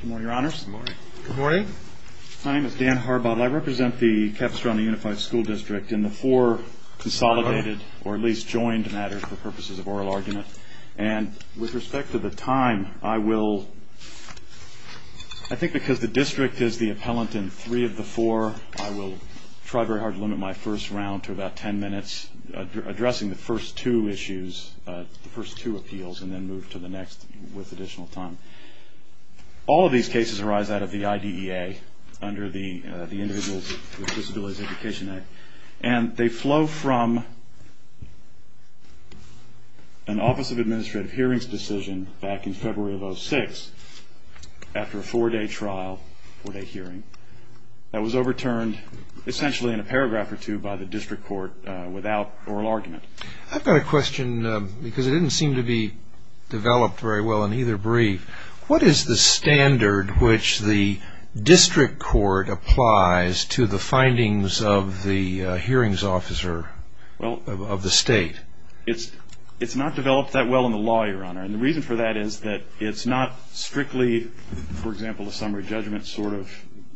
Good morning, Your Honors. Good morning. Good morning. My name is Dan Harbottle. I represent the Capistrano Unified School District in the four consolidated or at least joined matters for purposes of oral argument. And with respect to the time, I will, I think because the district is the appellant in three of the four, I will try very hard to limit my first round to about ten minutes addressing the first two issues, the first two appeals and then move to the next with additional time. All of these cases arise out of the IDEA under the Individuals with Disabilities Education Act. And they flow from an Office of Administrative Hearings decision back in February of 2006 after a four-day trial, four-day hearing, that was overturned essentially in a paragraph or two by the district court without oral argument. I've got a question because it didn't seem to be developed very well in either brief. What is the standard which the district court applies to the findings of the hearings officer of the state? It's not developed that well in the law, Your Honor. And the reason for that is that it's not strictly, for example, a summary judgment sort of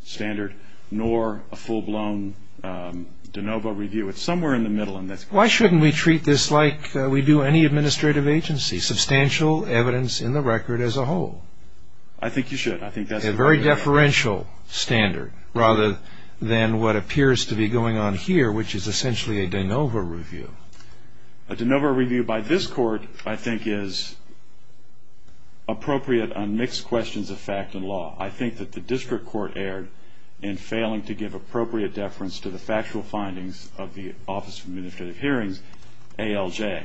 standard nor a full-blown de novo review. It's somewhere in the middle in this. Why shouldn't we treat this like we do any administrative agency, substantial evidence in the record as a whole? I think you should. I think that's a very deferential standard rather than what appears to be going on here, which is essentially a de novo review. A de novo review by this court, I think, is appropriate on mixed questions of fact and law. I think that the district court erred in failing to give appropriate deference to the factual findings of the Office of Administrative Hearings, ALJ.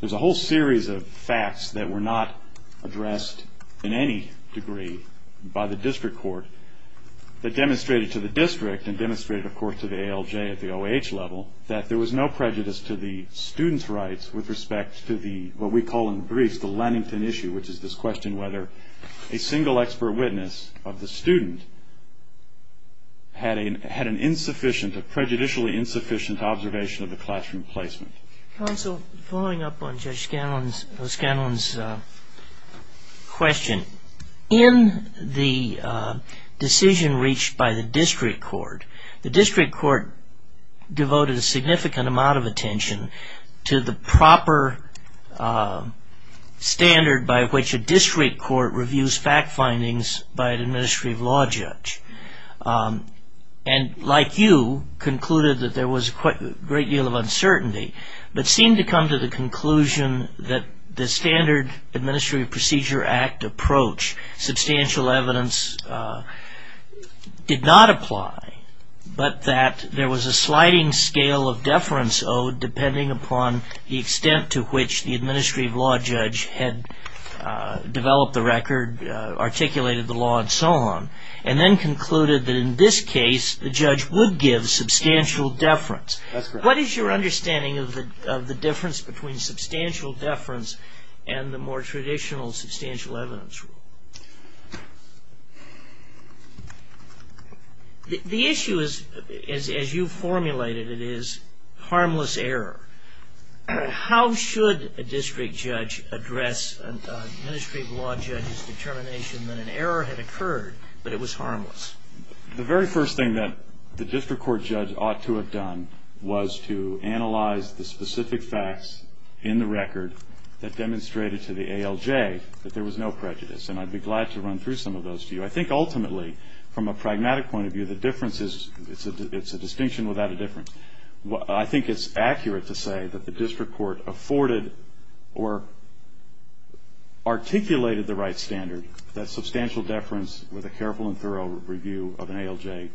There's a whole series of facts that were not addressed in any degree by the district court that demonstrated to the district and demonstrated, of course, to the ALJ at the OAH level that there was no prejudice to the student's rights with respect to what we call in the briefs the Lannington issue, which is this question whether a single expert witness of the student had an insufficient, a prejudicially insufficient observation of the classroom placement. Counsel, following up on Judge Scanlon's question, in the decision reached by the district court, the district court devoted a significant amount of attention to the proper standard by which a district court reviews fact findings by an administrative law judge. Like you, concluded that there was a great deal of uncertainty, but seemed to come to the conclusion that the standard Administrative Procedure Act approach, substantial evidence, did not apply, but that there was a sliding scale of deference owed depending upon the extent to which the administrative law judge had developed the record, articulated the law, and so on, and then concluded that in this case, the judge would give substantial deference. What is your understanding of the difference between substantial deference and the more significant deference? The issue is, as you formulated, it is harmless error. How should a district judge address an administrative law judge's determination that an error had occurred, but it was harmless? The very first thing that the district court judge ought to have done was to analyze the specific facts in the record that demonstrated to the ALJ that there was no prejudice, and I'd be glad to run through some of those to you. I think ultimately, from a pragmatic point of view, the difference is, it's a distinction without a difference. I think it's accurate to say that the district court afforded or articulated the right standard, that substantial deference with a careful and thorough review of an ALJ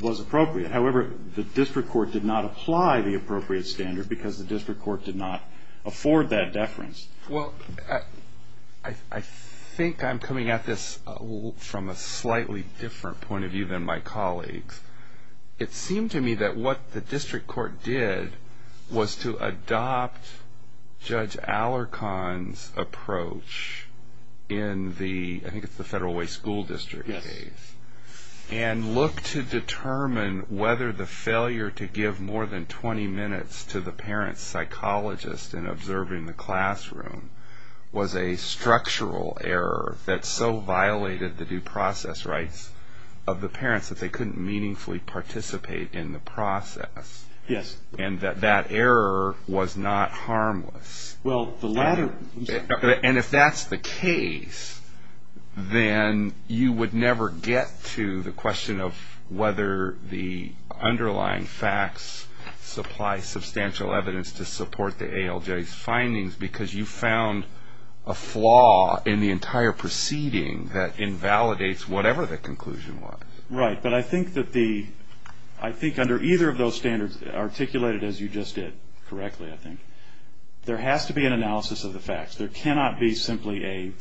was appropriate. However, the district court did not apply the appropriate standard because the district court did not afford that deference. Well, I think I'm coming at this from a slightly different point of view than my colleagues. It seemed to me that what the district court did was to adopt Judge Alarcon's approach in the, I think it's the Federal Way School District case, and look to determine whether the failure to give more than 20 minutes to the parent psychologist in observing the classroom was a structural error that so violated the due process rights of the parents that they couldn't meaningfully participate in the process, and that that error was not harmless. And if that's the case, then you would never get to the question of whether the understudy underlying facts supply substantial evidence to support the ALJ's findings because you found a flaw in the entire proceeding that invalidates whatever the conclusion was. Right, but I think that the, I think under either of those standards, articulated as you just did correctly, I think, there has to be an analysis of the facts. There cannot be simply a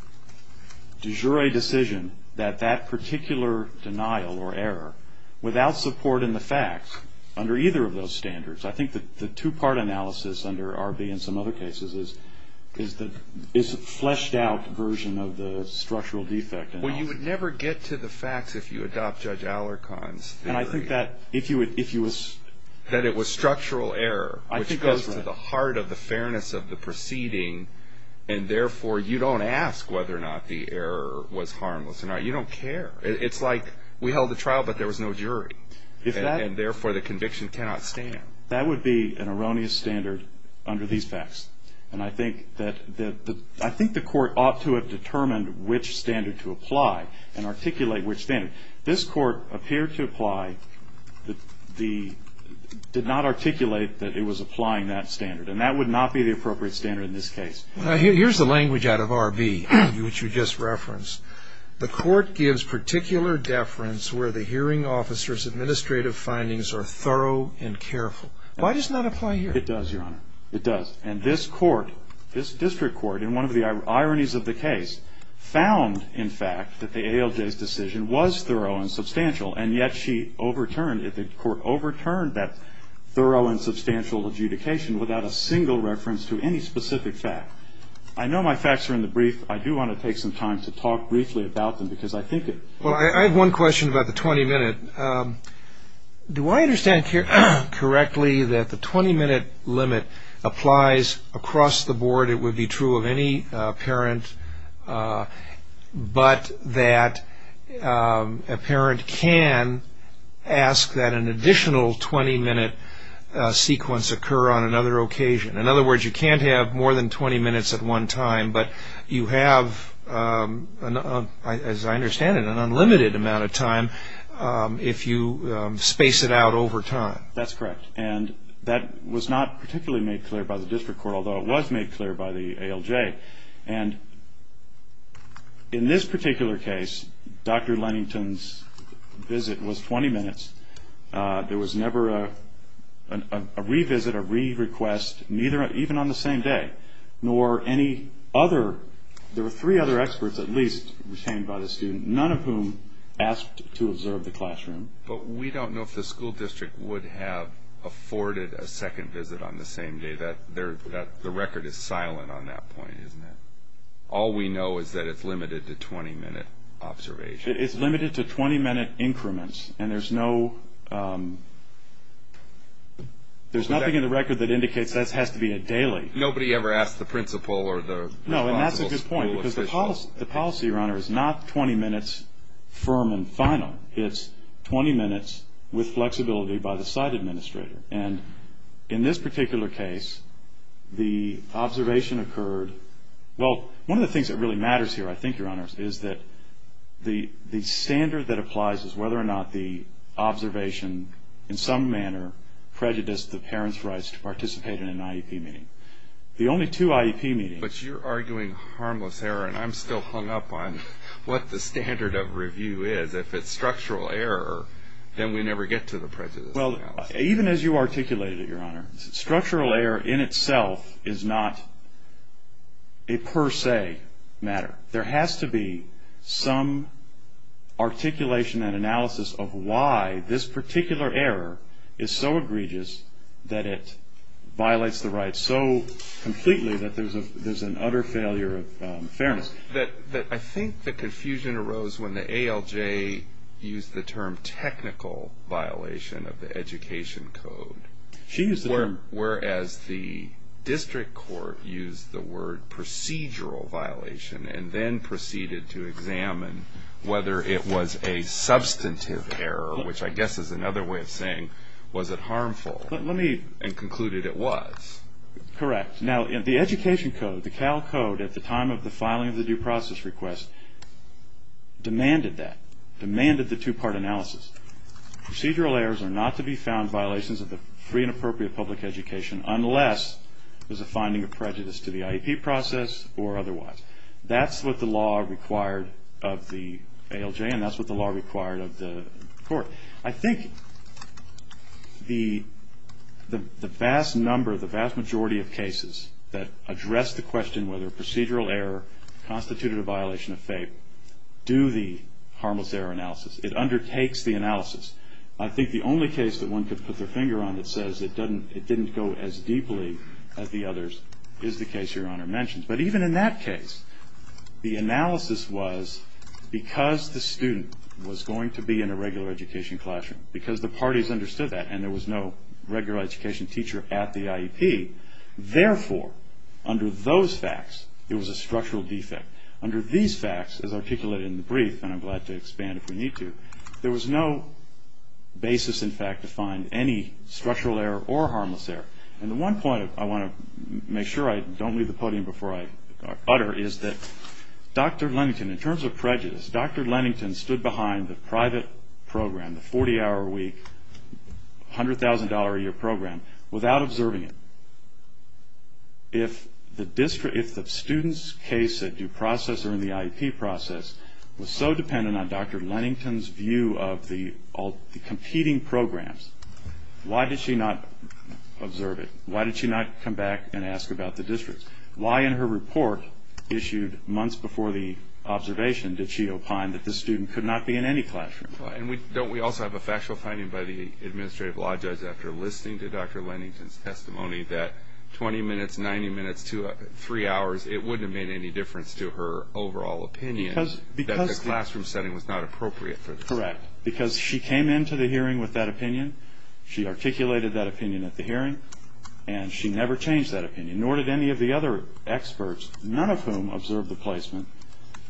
de jure decision that that particular denial or error, without support in the facts, under either of those standards. I think that the two-part analysis under R.B. and some other cases is the fleshed-out version of the structural defect analysis. Well, you would never get to the facts if you adopt Judge Alarcon's theory. And I think that if you would, if you would... That it was structural error, which goes to the heart of the fairness of the proceeding, and therefore you don't ask whether or not the error was harmless or not. You don't care. And therefore the conviction cannot stand. That would be an erroneous standard under these facts. And I think that the, I think the court ought to have determined which standard to apply and articulate which standard. This court appeared to apply the, did not articulate that it was applying that standard. And that would not be the appropriate standard in this case. Here's the language out of R.B. which you just referenced. The court gives particular deference where the hearing officer's administrative findings are thorough and careful. Why does it not apply here? It does, Your Honor. It does. And this court, this district court, in one of the ironies of the case, found, in fact, that the ALJ's decision was thorough and substantial. And yet she overturned, the court overturned that thorough and substantial adjudication without a single reference to any specific fact. I know my facts are in the brief. I do want to take some time to talk briefly about them because I think it... Well, I have one question about the 20-minute. Do I understand correctly that the 20-minute limit applies across the board? It would be true of any parent, but that a parent can ask that an additional 20-minute sequence occur on another occasion. In other words, you can't have more than 20 minutes at one time, but you have, as I understand it, an unlimited amount of time if you space it out over time. That's correct. And that was not particularly made clear by the district court, although it was made clear by the ALJ. And in this particular case, Dr. Lennington's visit was 20 minutes. There was never a revisit, a re-request, neither, even on the same day, nor any other. There were three other experts, at least, retained by the student, none of whom asked to observe the classroom. But we don't know if the school district would have afforded a second visit on the same day. The record is silent on that point, isn't it? All we know is that it's limited to 20-minute observations. It's limited to 20-minute increments, and there's no... There's nothing in the record that indicates that has to be a daily. Nobody ever asked the principal or the... No, and that's a good point, because the policy, Your Honor, is not 20 minutes firm and final. It's 20 minutes with flexibility by the site administrator. And in this particular case, the observation occurred... Well, one of the things that really matters here, I think, Your Honor, is that the standard that applies is whether or not the observation in some manner prejudiced the parents' rights to participate in an IEP meeting. The only two IEP meetings... But you're arguing harmless error, and I'm still hung up on what the standard of review is. If it's structural error, then we never get to the prejudice analysis. Well, even as you articulated it, Your Honor, structural error in itself is not a per se matter. There has to be some articulation and analysis of why this particular error is so egregious that it violates the rights so completely that there's an utter failure of fairness. I think the confusion arose when the ALJ used the term technical violation of the education code, whereas the district court used the word procedural violation and then proceeded to examine whether it was a substantive error, which I guess is another way of saying, was it harmful, and concluded it was. Correct. Now, the education code, the Cal Code, at the time of the filing of the due process request, demanded that, demanded the two-part analysis. Procedural errors are not to be found violations of the free and appropriate public education unless there's a finding of prejudice to the IEP process or otherwise. That's what the law required of the ALJ and that's what the law required of the court. I think the vast number, the vast majority of cases that address the question whether procedural error constituted a violation of FAPE do the harmless error analysis. It undertakes the analysis. I think the only case that one could put their finger on that says it didn't go as deeply as the others is the case Your Honor mentioned. But even in that case, the analysis was, because the student was going to be in a regular education classroom, because the parties understood that and there was no regular education teacher at the IEP, therefore, under those facts, there was a structural defect. Under these facts, as articulated in the brief, and I'm glad to expand if we need to, there was no basis, in fact, to find any structural error or harmless error. And the one point I want to make sure I don't leave the podium before I utter is that Dr. Lennington, in terms of prejudice, Dr. Lennington stood behind the private program, the 40-hour a week, $100,000 a year program, without observing it. If the student's case at due process or in the IEP process was so dependent on Dr. Lennington's view of the competing programs, why did she not observe it? Why did she not come back and ask about the districts? Why in her report, issued months before the observation, did she opine that this student could not be in any classroom? And don't we also have a factual finding by the administrative law judge after listening to Dr. Lennington's testimony that 20 minutes, 90 minutes, 3 hours, it wouldn't have made any difference to her overall opinion that the classroom setting was not appropriate for the student? Correct. Because she came into the hearing with that opinion, she articulated that opinion at the hearing, and she never changed that opinion, nor did any of the other experts, none of whom observed the placement,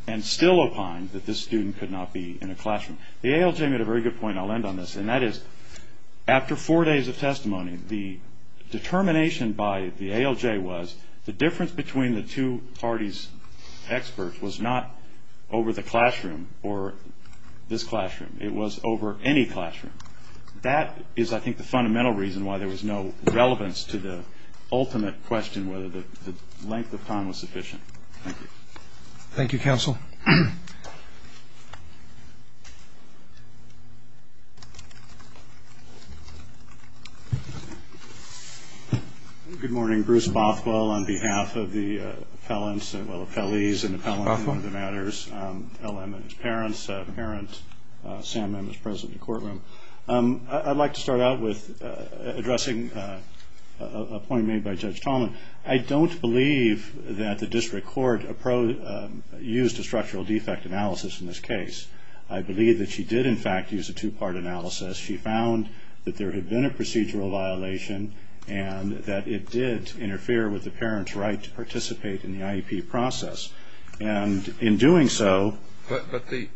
and still opined that this student could not be in a classroom. The ALJ made a very good point, I'll end on this, and that is, after 4 days of testimony, the determination by the ALJ was, the difference between the two parties' experts was not over the classroom, or this classroom, it was over any classroom. That is, I think, the fundamental reason why there was no relevance to the ultimate question, whether the length of time was sufficient. Thank you. Thank you, counsel. Good morning, Bruce Bothwell on behalf of the appellants, well, appellees and appellants in the matters, LM and his parents, parent Sam M is present in the courtroom. I'd like to start out with addressing a point made by Judge Tallman. I don't believe that the judge used a structural defect analysis in this case. I believe that she did, in fact, use a two-part analysis. She found that there had been a procedural violation, and that it did interfere with the parent's right to participate in the IEP process, and in doing so... But the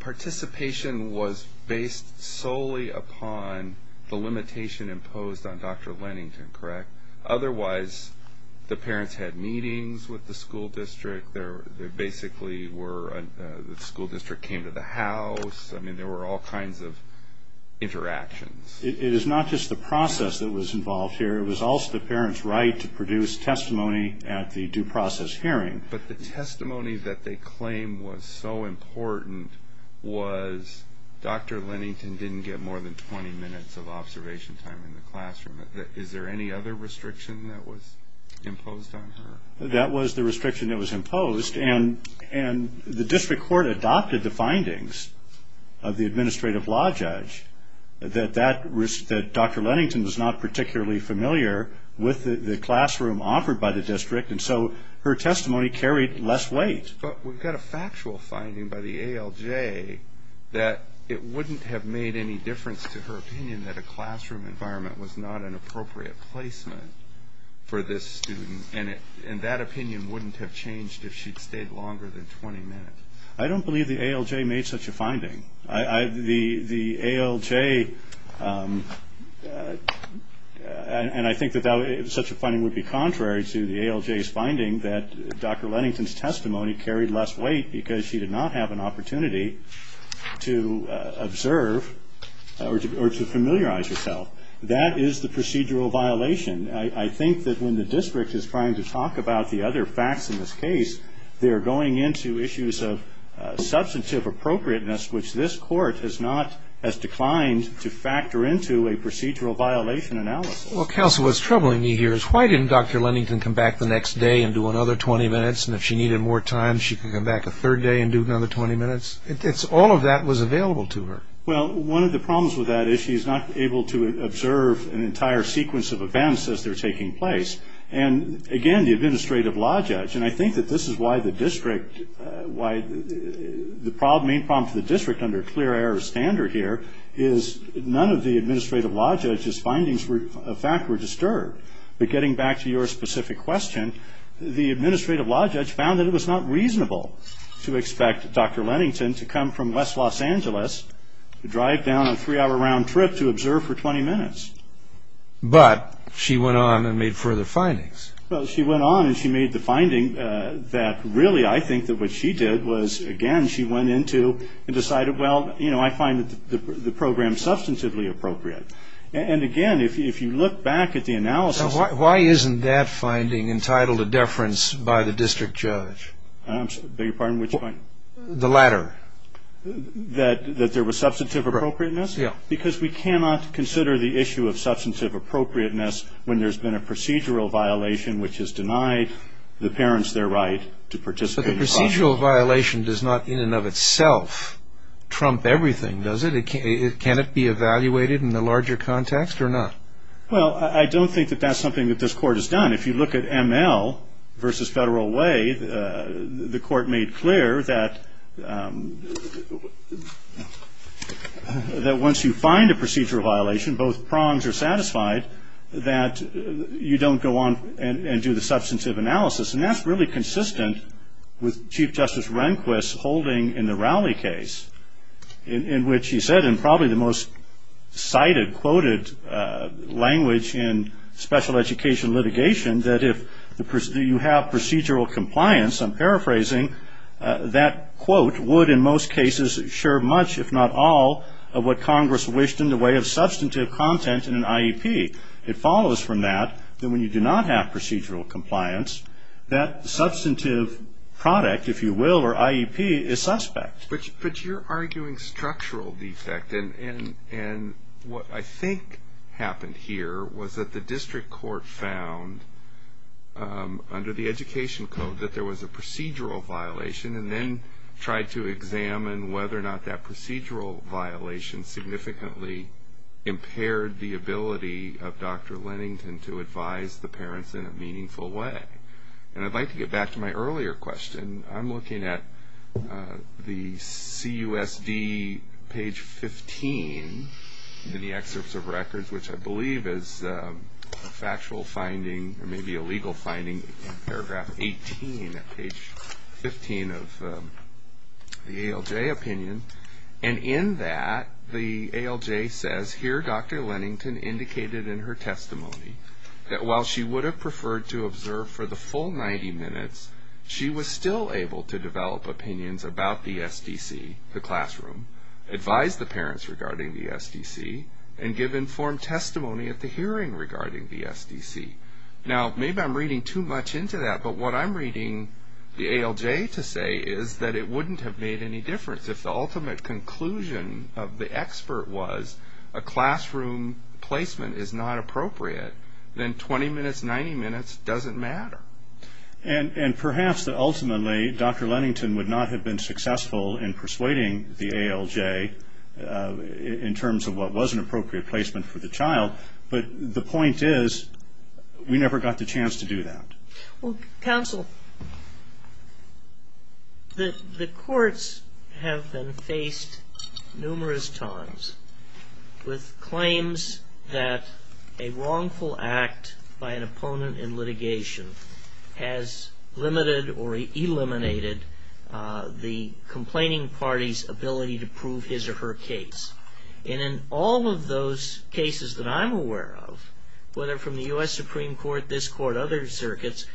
participation was based solely upon the limitation imposed on Dr. Lennington, correct? Otherwise, the parents had meetings with the school district. They basically were...the school district came to the house. I mean, there were all kinds of interactions. It is not just the process that was involved here. It was also the parent's right to produce testimony at the due process hearing. But the testimony that they claim was so important was Dr. Lennington didn't get more than 20 minutes of observation time in the classroom. Is there any other restriction that was imposed on her? That was the restriction that was imposed, and the district court adopted the findings of the administrative law judge that Dr. Lennington was not particularly familiar with the classroom offered by the district, and so her testimony carried less weight. But we've got a factual finding by the ALJ that it wouldn't have made any difference to her opinion that a classroom environment was not an appropriate placement for this student, and that opinion wouldn't have changed if she'd stayed longer than 20 minutes. I don't believe the ALJ made such a finding. The ALJ...and I think that such a finding would be contrary to the ALJ's finding that Dr. Lennington's testimony carried less weight because she did not have an opportunity to observe or to familiarize herself. That is the procedural violation. I think that when the district is trying to talk about the other facts in this case, they're going into issues of substantive appropriateness, which this court has not as declined to factor into a procedural violation analysis. Well, counsel, what's troubling me here is why didn't Dr. Lennington come back the next day and do another 20 minutes, and if she needed more time, she could come back a third day and do another 20 minutes? All of that was available to her. Well, one of the problems with that is she's not able to observe an entire sequence of events as they're taking place. And again, the administrative law judge, and I think that this is why the district...why the main problem for the district under a clear error standard here is none of the administrative law judge's findings of fact were disturbed. But getting back to your specific question, the administrative law judge found that it was not reasonable to expect Dr. Lennington to come from West Los Angeles, to drive down a three-hour round trip to observe for 20 minutes. But she went on and made further findings. Well, she went on and she made the finding that really I think that what she did was, again, she went into and decided, well, you know, I find the program substantively appropriate. And again, if you look back at the analysis... Why isn't that finding entitled a deference by the district judge? I'm sorry, beg your pardon, which point? The latter. That there was substantive appropriateness? Correct, yeah. Because we cannot consider the issue of substantive appropriateness when there's been a procedural violation which has denied the parents their right to participate in the process. But the procedural violation does not in and of itself trump everything, does it? Can it be evaluated in the larger context or not? Well, I don't think that that's something that this Court has done. If you look at ML versus Federal Way, the Court made clear that once you find a procedural violation, both prongs are satisfied, that you don't go on and do the substantive analysis. And that's really consistent with Chief Justice Rehnquist holding in the Rowley case, in which he said in probably the most cited, quoted language in special education litigation, that if you have procedural compliance, I'm paraphrasing, that quote would in most cases share much, if not all, of what Congress wished in the way of substantive content in an IEP. It follows from that that when you do not have procedural compliance, that substantive product, if you will, or IEP, is suspect. But you're arguing structural defect. And what I think happened here was that the District Court found, under the Education Code, that there was a procedural violation, and then tried to examine whether or not that procedural violation significantly impaired the ability of Dr. Lennington to advise the parents in a meaningful way. And I'd like to get back to my earlier question. I'm looking at the CUSD page 15 in the excerpts of records, which I believe is a factual finding, or maybe a legal finding, in paragraph 18 at page 15 of the ALJ opinion. And in that, the ALJ says, here Dr. Lennington indicated in her testimony, that while she would have preferred to observe for the full 90 minutes, she was still able to develop opinions about the SDC, the classroom, advise the parents regarding the SDC, and give informed testimony at the hearing regarding the SDC. Now maybe I'm reading too much into that, but what I'm reading the ALJ to say is that it wouldn't have made any difference if the ultimate conclusion of the expert was a classroom placement is not appropriate, then 20 minutes, 90 minutes doesn't matter. And perhaps that ultimately, Dr. Lennington would not have been successful in persuading the ALJ in terms of what was an appropriate placement for the child, but the point is, we never got the chance to do that. Well, counsel, the courts have been faced numerous times with claims that the parents a wrongful act by an opponent in litigation has limited or eliminated the complaining party's ability to prove his or her case. And in all of those cases that I'm aware of, whether from the U.S. Supreme Court, this court, other circuits,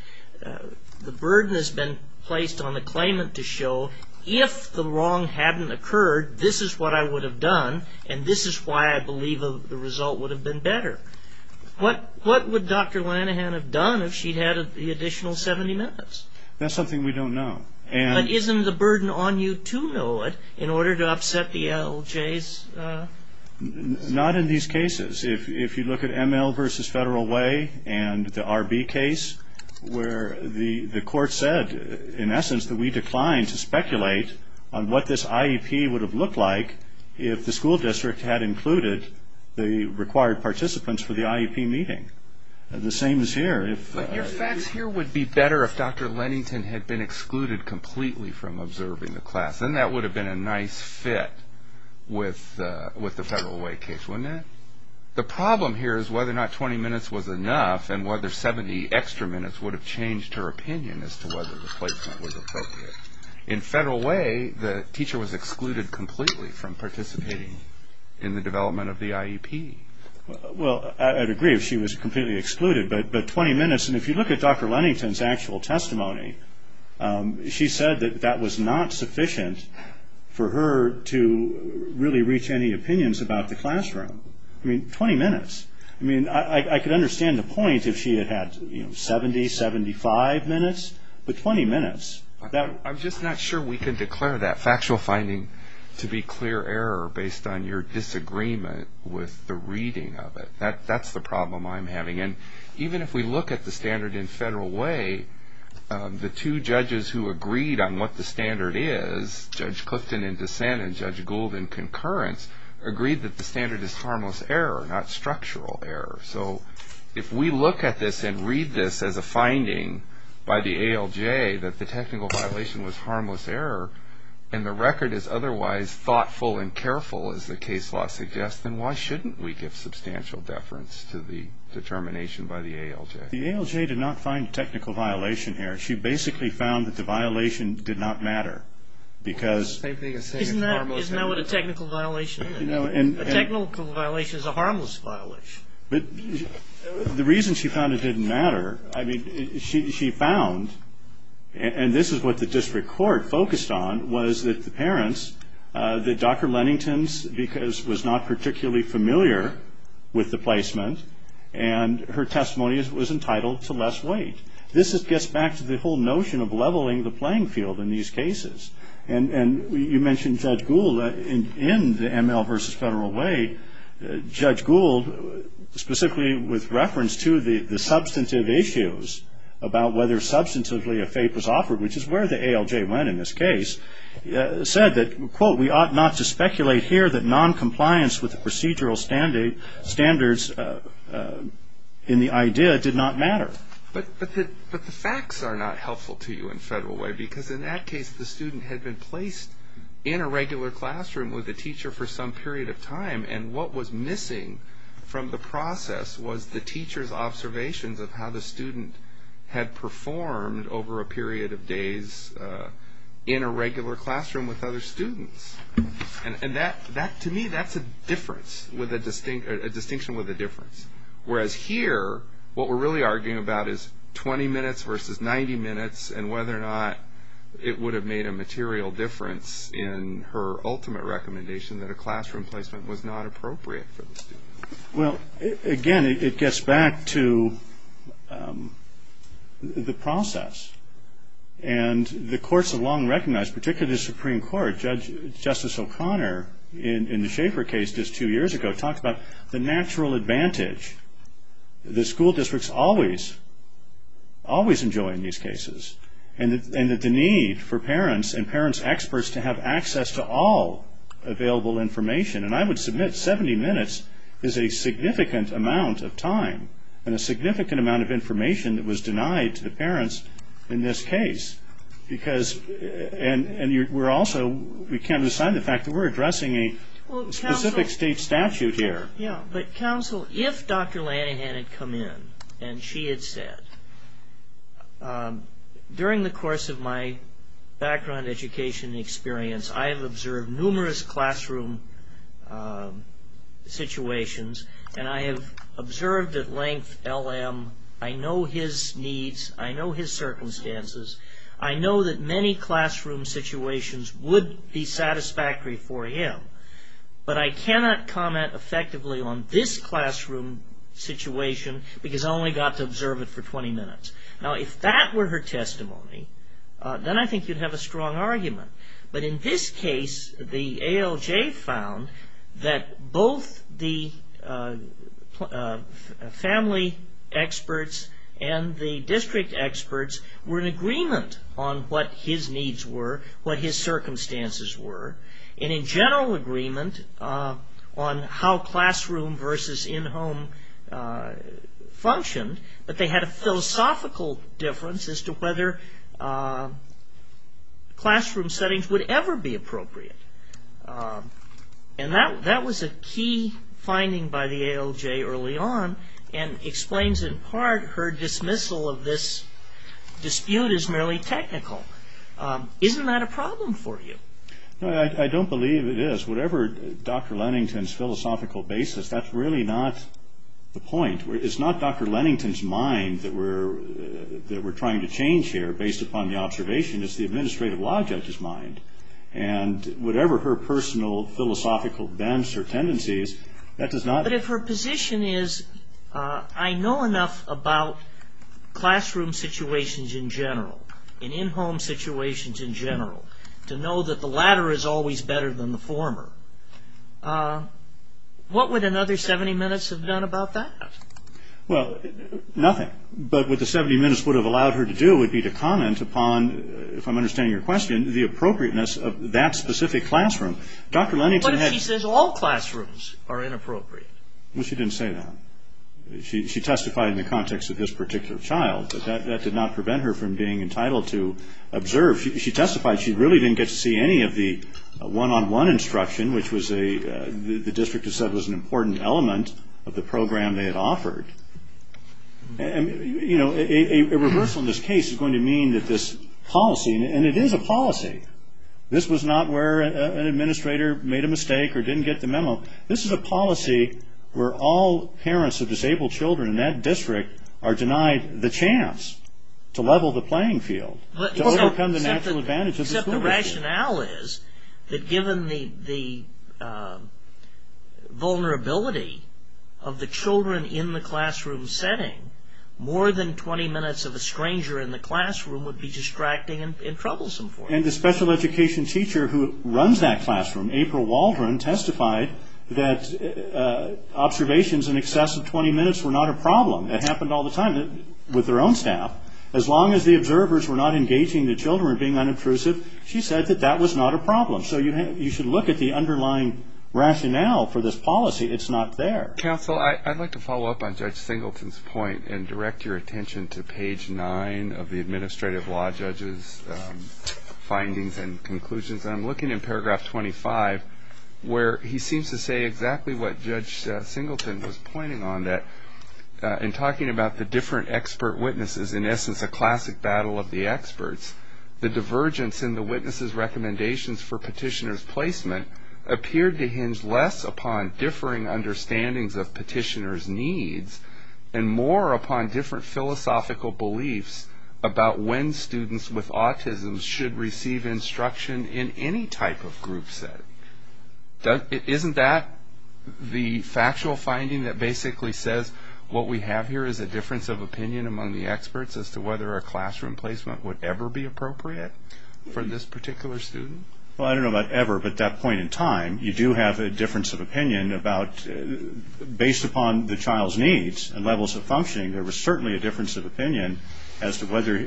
the burden has been placed on the claimant to show, if the wrong hadn't occurred, this is what I would have done, and this is why I believe the result would have been better. What would Dr. Lennington have done if she'd had the additional 70 minutes? That's something we don't know. But isn't the burden on you to know it in order to upset the ALJs? Not in these cases. If you look at ML v. Federal Way and the RB case, where the court said in essence that we declined to speculate on what this IEP would have looked like if the school district had included the required participants for the IEP meeting. The same is here. But your facts here would be better if Dr. Lennington had been excluded completely from observing the class. Then that would have been a nice fit with the Federal Way case, wouldn't it? The problem here is whether or not 20 minutes was enough, and whether 70 extra minutes would have changed her opinion as to whether the placement was appropriate. In Federal Way, the teacher was excluded completely from participating in the development of the IEP. Well, I'd agree if she was completely excluded, but 20 minutes, and if you look at Dr. Lennington's actual testimony, she said that that was not sufficient for her to really reach any opinions about the classroom. I mean, 20 minutes. I mean, I could understand the point if she had had 70, 75 minutes, but 20 minutes. I'm just not sure we can declare that factual finding to be clear error based on your disagreement with the reading of it. That's the problem I'm having. Even if we look at the standard in Federal Way, the two judges who agreed on what the standard is, Judge Clifton in dissent and Judge Gould in concurrence, agreed that the technical violation was harmless error, not structural error. So if we look at this and read this as a finding by the ALJ that the technical violation was harmless error, and the record is otherwise thoughtful and careful, as the case law suggests, then why shouldn't we give substantial deference to the determination by the ALJ? The ALJ did not find technical violation here. She basically found that the violation did not matter, because... A violation is a harmless violation. The reason she found it didn't matter, I mean, she found, and this is what the district court focused on, was that the parents, that Dr. Lennington's was not particularly familiar with the placement, and her testimony was entitled to less weight. This gets back to the whole notion of leveling the playing field in these cases, and you know, in the ML v. Federal Way, Judge Gould, specifically with reference to the substantive issues about whether substantively a fate was offered, which is where the ALJ went in this case, said that, quote, we ought not to speculate here that noncompliance with the procedural standards in the idea did not matter. But the facts are not helpful to you in Federal Way, because in that case, the student had been placed in a regular classroom with a teacher for some period of time, and what was missing from the process was the teacher's observations of how the student had performed over a period of days in a regular classroom with other students. And that, to me, that's a difference, a distinction with a difference. Whereas here, what we're really arguing about is 20 minutes versus 90 minutes, and whether or not it would have made a material difference in her ultimate recommendation that a classroom placement was not appropriate for the student. Well, again, it gets back to the process. And the courts have long recognized, particularly the Supreme Court, Justice O'Connor, in the Schaefer case just two years ago, talked about the natural advantage the school districts always enjoy in these cases, and that the need for parents and parents' experts to have access to all available information. And I would submit 70 minutes is a significant amount of time and a significant amount of information that was denied to the parents in this case. And we're also, we can't decide the fact that we're addressing a specific state statute here. But counsel, if Dr. Lanahan had come in and she had said, during the course of my background education experience, I have observed numerous classroom situations, and I have observed at length LM, I know his needs, I know his circumstances, I know that many classroom situations would be satisfactory for him. But I cannot comment effectively on this classroom situation, because I only got to observe it for 20 minutes. Now, if that were her testimony, then I think you'd have a strong argument. But in this case, the ALJ found that both the family experts and the district experts were in agreement on what his needs were, what his circumstances were, and in general agreement on how classroom versus in-home functioned, but they had a philosophical difference as to whether classroom settings would ever be appropriate. And that was a key finding by the ALJ early on, and explains in part her dismissal of this dispute as merely technical. Isn't that a problem for you? No, I don't believe it is. Whatever Dr. Lennington's philosophical basis, that's really not the point. It's not Dr. Lennington's mind that we're trying to change here based upon the observation, it's the administrative law judge's mind. And whatever her personal philosophical bents or tendencies, that does not... But if her position is, I know enough about classroom situations in general, and in-home situations in general, to know that the latter is always better than the former, what would another 70 minutes have done about that? Well, nothing. But what the 70 minutes would have allowed her to do would be to comment upon, if I'm understanding your question, the appropriateness of that specific classroom. Dr. Lennington had... All classrooms are inappropriate. Well, she didn't say that. She testified in the context of this particular child, but that did not prevent her from being entitled to observe. She testified, she really didn't get to see any of the one-on-one instruction, which the district had said was an important element of the program they had offered. You know, a reversal in this case is going to mean that this policy, and it is a policy, this was not where an administrator made a mistake or didn't get the memo. This is a policy where all parents of disabled children in that district are denied the chance to level the playing field, to overcome the natural advantage of the school. Except the rationale is that given the vulnerability of the children in the classroom setting, more than 20 minutes of a stranger in the classroom would be distracting and troublesome And the special education teacher who runs that classroom, April Waldron, testified that observations in excess of 20 minutes were not a problem. It happened all the time with her own staff. As long as the observers were not engaging the children or being unobtrusive, she said that that was not a problem. So you should look at the underlying rationale for this policy. It's not there. Counsel, I'd like to follow up on Judge Singleton's point and direct your attention to page nine of the Administrative Law Judge's findings and conclusions. I'm looking in paragraph 25 where he seems to say exactly what Judge Singleton was pointing on, that in talking about the different expert witnesses, in essence a classic battle of the experts, the divergence in the witnesses' recommendations for petitioner's placement appeared to hinge less upon differing understandings of petitioner's needs and more upon different philosophical beliefs about when students with autism should receive instruction in any type of group setting. Isn't that the factual finding that basically says what we have here is a difference of opinion among the experts as to whether a classroom placement would ever be appropriate for this particular student? Well, I don't know about ever, but at that point in time, you do have a difference of opinion about, based upon the child's needs and levels of functioning, there was certainly a difference of opinion as to whether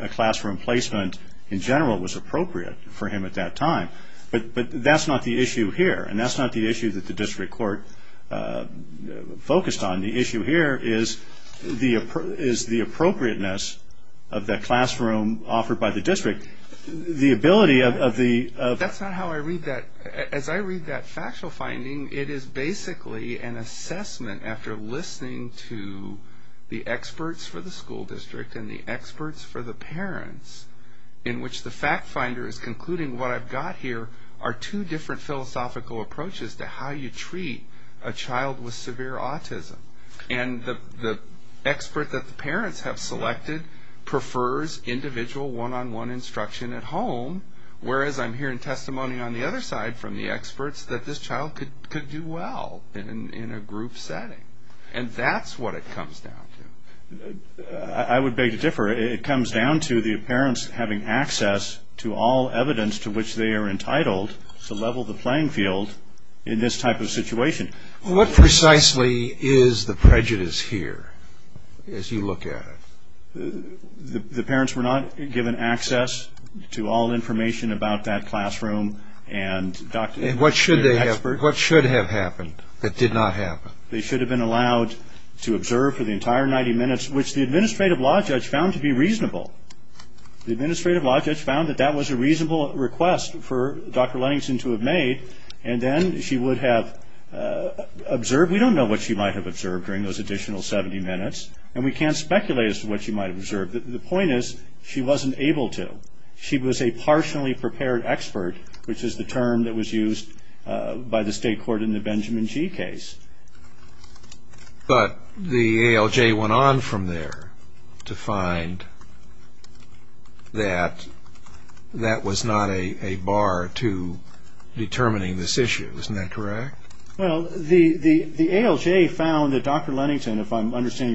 a classroom placement in general was appropriate for him at that time. But that's not the issue here, and that's not the issue that the district court focused on. The issue here is the appropriateness of the classroom offered by the district. The ability of the... That's not how I read that. As I read that factual finding, it is basically an assessment, after listening to the experts for the school district and the experts for the parents, in which the fact finder is concluding what I've got here are two different philosophical approaches to how you treat a child with severe autism. And the expert that the parents have selected prefers individual one-on-one instruction at home, whereas I'm hearing testimony on the other side from the experts that this child could do well in a group setting. And that's what it comes down to. I would beg to differ. It comes down to the parents having access to all evidence to which they are entitled to level the playing field in this type of situation. What precisely is the prejudice here, as you look at it? The parents were not given access to all information about that classroom, and Dr. Lenningson... And what should have happened that did not happen? They should have been allowed to observe for the entire 90 minutes, which the administrative law judge found to be reasonable. The administrative law judge found that that was a reasonable request for Dr. Lenningson to have made, and then she would have observed. We don't know what she might have observed during those additional 70 minutes, and we can't speculate as to what she might have observed. The point is, she wasn't able to. She was a partially prepared expert, which is the term that was used by the state court in the Benjamin Gee case. But the ALJ went on from there to find that that was not a bar to determining this issue. Isn't that correct? Well, the ALJ found that Dr. Lennington, if I'm understanding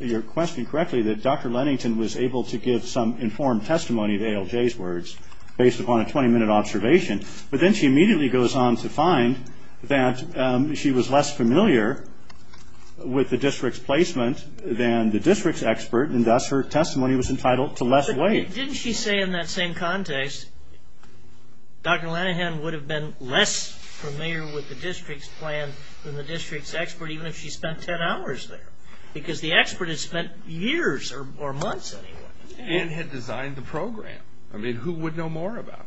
your question correctly, that Dr. Lennington was able to give some informed testimony to ALJ's words, based upon a 20-minute observation, but then she immediately goes on to find that she was less familiar with the district's placement than the district's expert, and thus her testimony was entitled to less weight. Didn't she say in that same context, Dr. Lennington would have been less familiar with the district's plan than the district's expert, even if she spent 10 hours there? Because the expert had spent years, or months, anyway. And had designed the program. I mean, who would know more about it?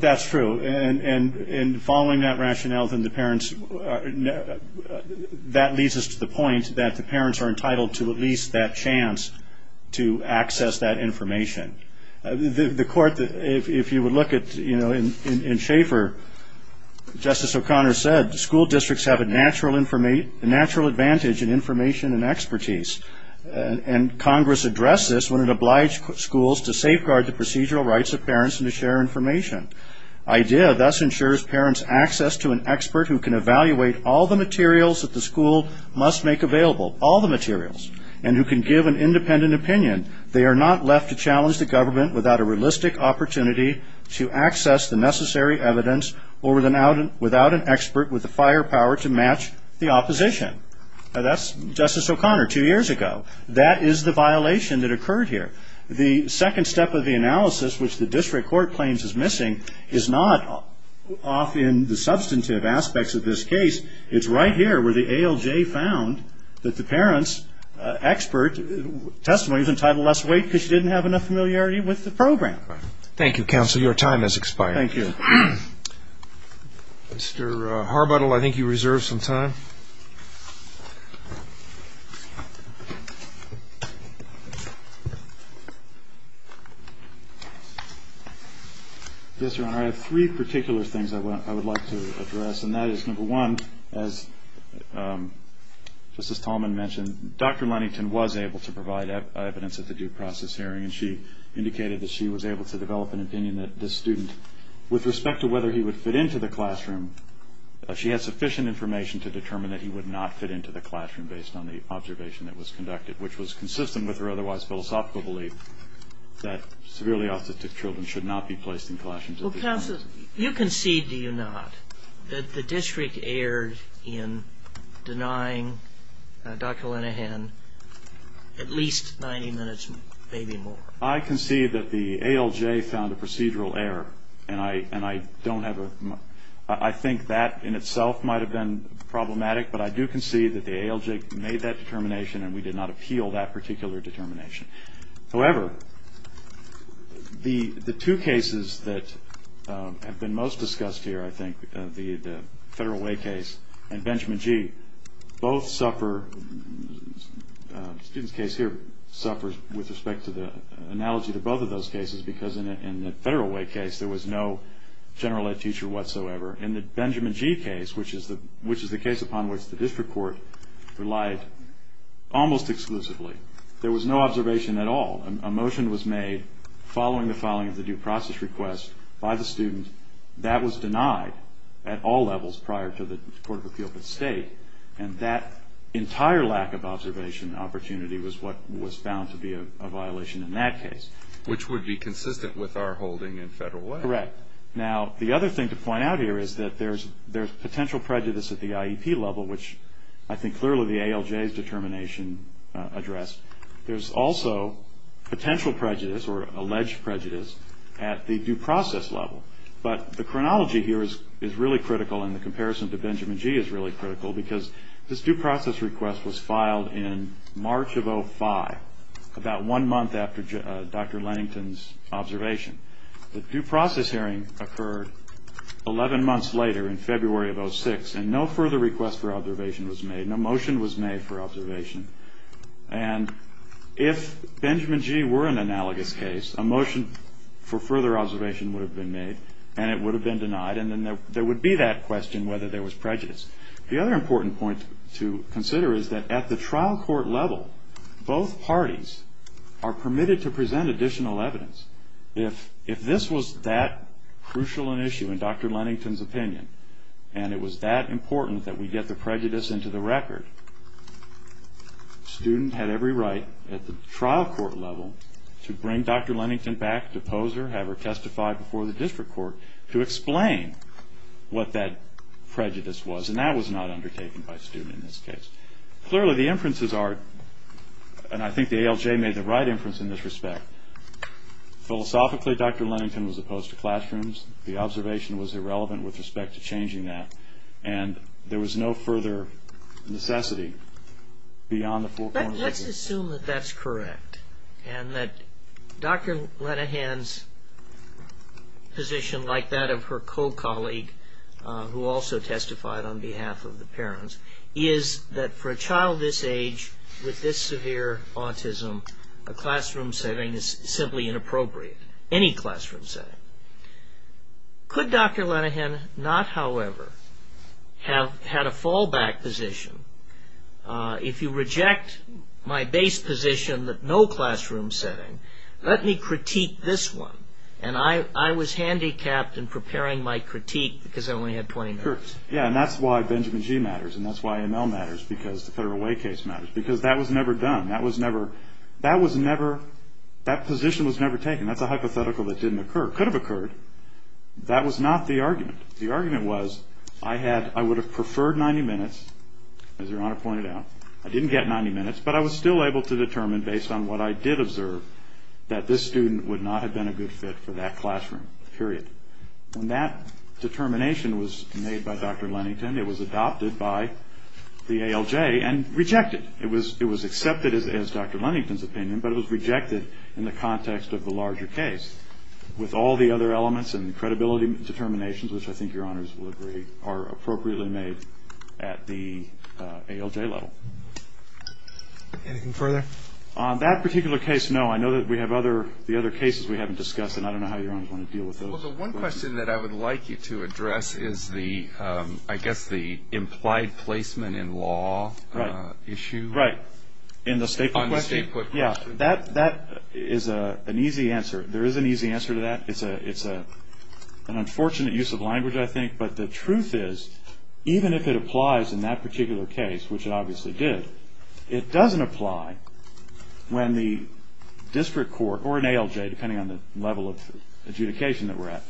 That's true, and following that rationale, that leads us to the point that the parents are entitled to at least that chance to access that information. The court, if you would look at, you know, in Schaefer, Justice O'Connor said, school districts have a natural advantage in information and expertise. And Congress addressed this when it obliged schools to safeguard the procedural rights of parents and to share information. Idea thus ensures parents' access to an expert who can evaluate all the materials that the school must make available. All the materials. And who can give an independent opinion. They are not left to challenge the government without a realistic opportunity to access the necessary evidence, or without an expert with the firepower to match the opposition. That's Justice O'Connor two years ago. That is the violation that occurred here. The second step of the analysis, which the district court claims is missing, is not often the substantive aspects of this case. It's right here where the ALJ found that the parent's expert testimony is entitled to less weight because she didn't have enough familiarity with the program. Thank you, counsel. Your time has expired. Thank you. Mr. Harbuttle, I think you reserved some time. Yes, Your Honor, I have three particular things I would like to address, and that is, number one, as Justice Tallman mentioned, Dr. Lunnington was able to provide evidence at the due process hearing, and she indicated that she was able to develop an opinion that this student, with respect to whether he would fit into the classroom, she had sufficient information to determine that he would not fit into the classroom based on the observation that was conducted, which was consistent with her otherwise philosophical belief that severely autistic children should not be placed in classrooms. Well, counsel, you concede, do you not, that the district erred in denying Dr. Linehan at least 90 minutes, maybe more? I concede that the ALJ found a procedural error, and I don't have a – I think that in itself might have been problematic, but I do concede that the ALJ made that determination and we did not appeal that particular determination. However, the two cases that have been most discussed here, I think, the Federal Way case and Benjamin G., both suffer – the student's case here suffers with respect to the analogy to both of those cases because in the Federal Way case there was no general ed teacher whatsoever. In the Benjamin G. case, which is the case upon which the district court relied almost exclusively, there was no observation at all. A motion was made following the filing of the due process request by the student. That was denied at all levels prior to the Court of Appeals at State, and that entire lack of observation opportunity was what was found to be a violation in that case. Which would be consistent with our holding in Federal Way. Correct. Now, the other thing to point out here is that there's potential prejudice at the address. There's also potential prejudice or alleged prejudice at the due process level. But the chronology here is really critical in the comparison to Benjamin G. is really critical because this due process request was filed in March of 2005, about one month after Dr. Lennington's observation. The due process hearing occurred 11 months later in February of 2006 and no further request for observation was made, no motion was made for observation. And if Benjamin G. were an analogous case, a motion for further observation would have been made and it would have been denied and then there would be that question whether there was prejudice. The other important point to consider is that at the trial court level, both parties are permitted to present additional evidence. If this was that crucial an issue in Dr. Lennington's opinion and it was that important that we get the prejudice into the record, student had every right at the trial court level to bring Dr. Lennington back, depose her, have her testify before the district court to explain what that prejudice was and that was not undertaken by student in this case. Clearly the inferences are, and I think the ALJ made the right inference in this respect, philosophically Dr. Lennington was opposed to classrooms, the observation was irrelevant with respect to changing that and there was no further necessity beyond the full court of appeal. But let's assume that that's correct and that Dr. Lennington's position like that of her co-colleague who also testified on behalf of the parents is that for a child this age with this severe autism, a classroom setting is simply inappropriate, any classroom setting. Could Dr. Lennington not however have had a fallback position, if you reject my base position that no classroom setting, let me critique this one and I was handicapped in preparing my critique because I only had 20 minutes. Yeah and that's why Benjamin G. matters and that's why ML matters because the federal way case matters because that was never done, that position was never taken, that's a hypothetical that didn't occur, could have occurred, that was not the argument. The argument was I had, I would have preferred 90 minutes, as your honor pointed out, I didn't get 90 minutes but I was still able to determine based on what I did observe that this student would not have been a good fit for that classroom, period. When that determination was made by Dr. Lennington it was adopted by the ALJ and rejected. It was accepted as Dr. Lennington's opinion but it was rejected in the context of the with all the other elements and credibility determinations which I think your honors will agree are appropriately made at the ALJ level. Anything further? On that particular case, no, I know that we have other, the other cases we haven't discussed and I don't know how your honors want to deal with those. Well the one question that I would like you to address is the, I guess the implied placement in law issue. Right, in the state put question, yeah, that is an easy answer. There is an easy answer to that, it's an unfortunate use of language I think but the truth is even if it applies in that particular case, which it obviously did, it doesn't apply when the district court or an ALJ, depending on the level of adjudication that we're at,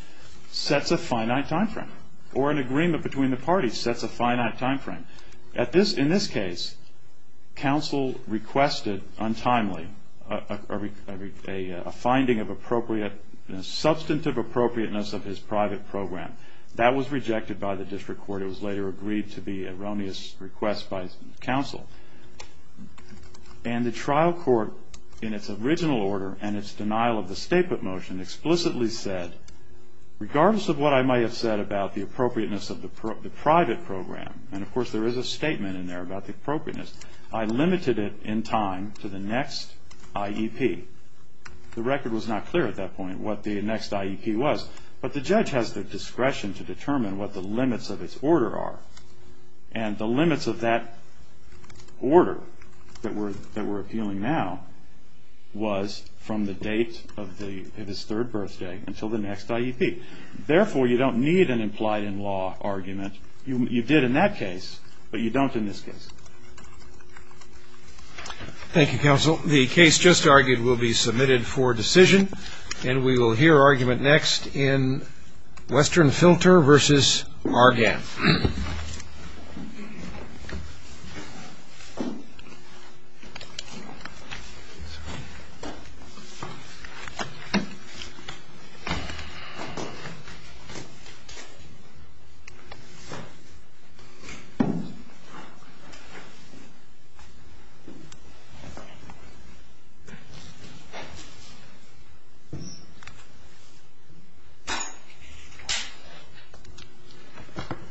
sets a finite time frame or an agreement between the parties sets a finite time frame. In this case, counsel requested untimely a finding of appropriate, a substantive appropriateness of his private program. That was rejected by the district court, it was later agreed to be an erroneous request by counsel and the trial court in its original order and its denial of the state put motion explicitly said, regardless of what I might have said about the appropriateness of the private program, and of course there is a statement in there about the appropriateness, I limited it in time to the next IEP. The record was not clear at that point what the next IEP was, but the judge has the discretion to determine what the limits of its order are. And the limits of that order that we're appealing now was from the date of his third birthday until the next IEP. Therefore you don't need an implied in law argument. You did in that case, but you don't in this case. Thank you, counsel. The case just argued will be submitted for decision, and we will hear argument next in Western Filter v. Argan. Thank you.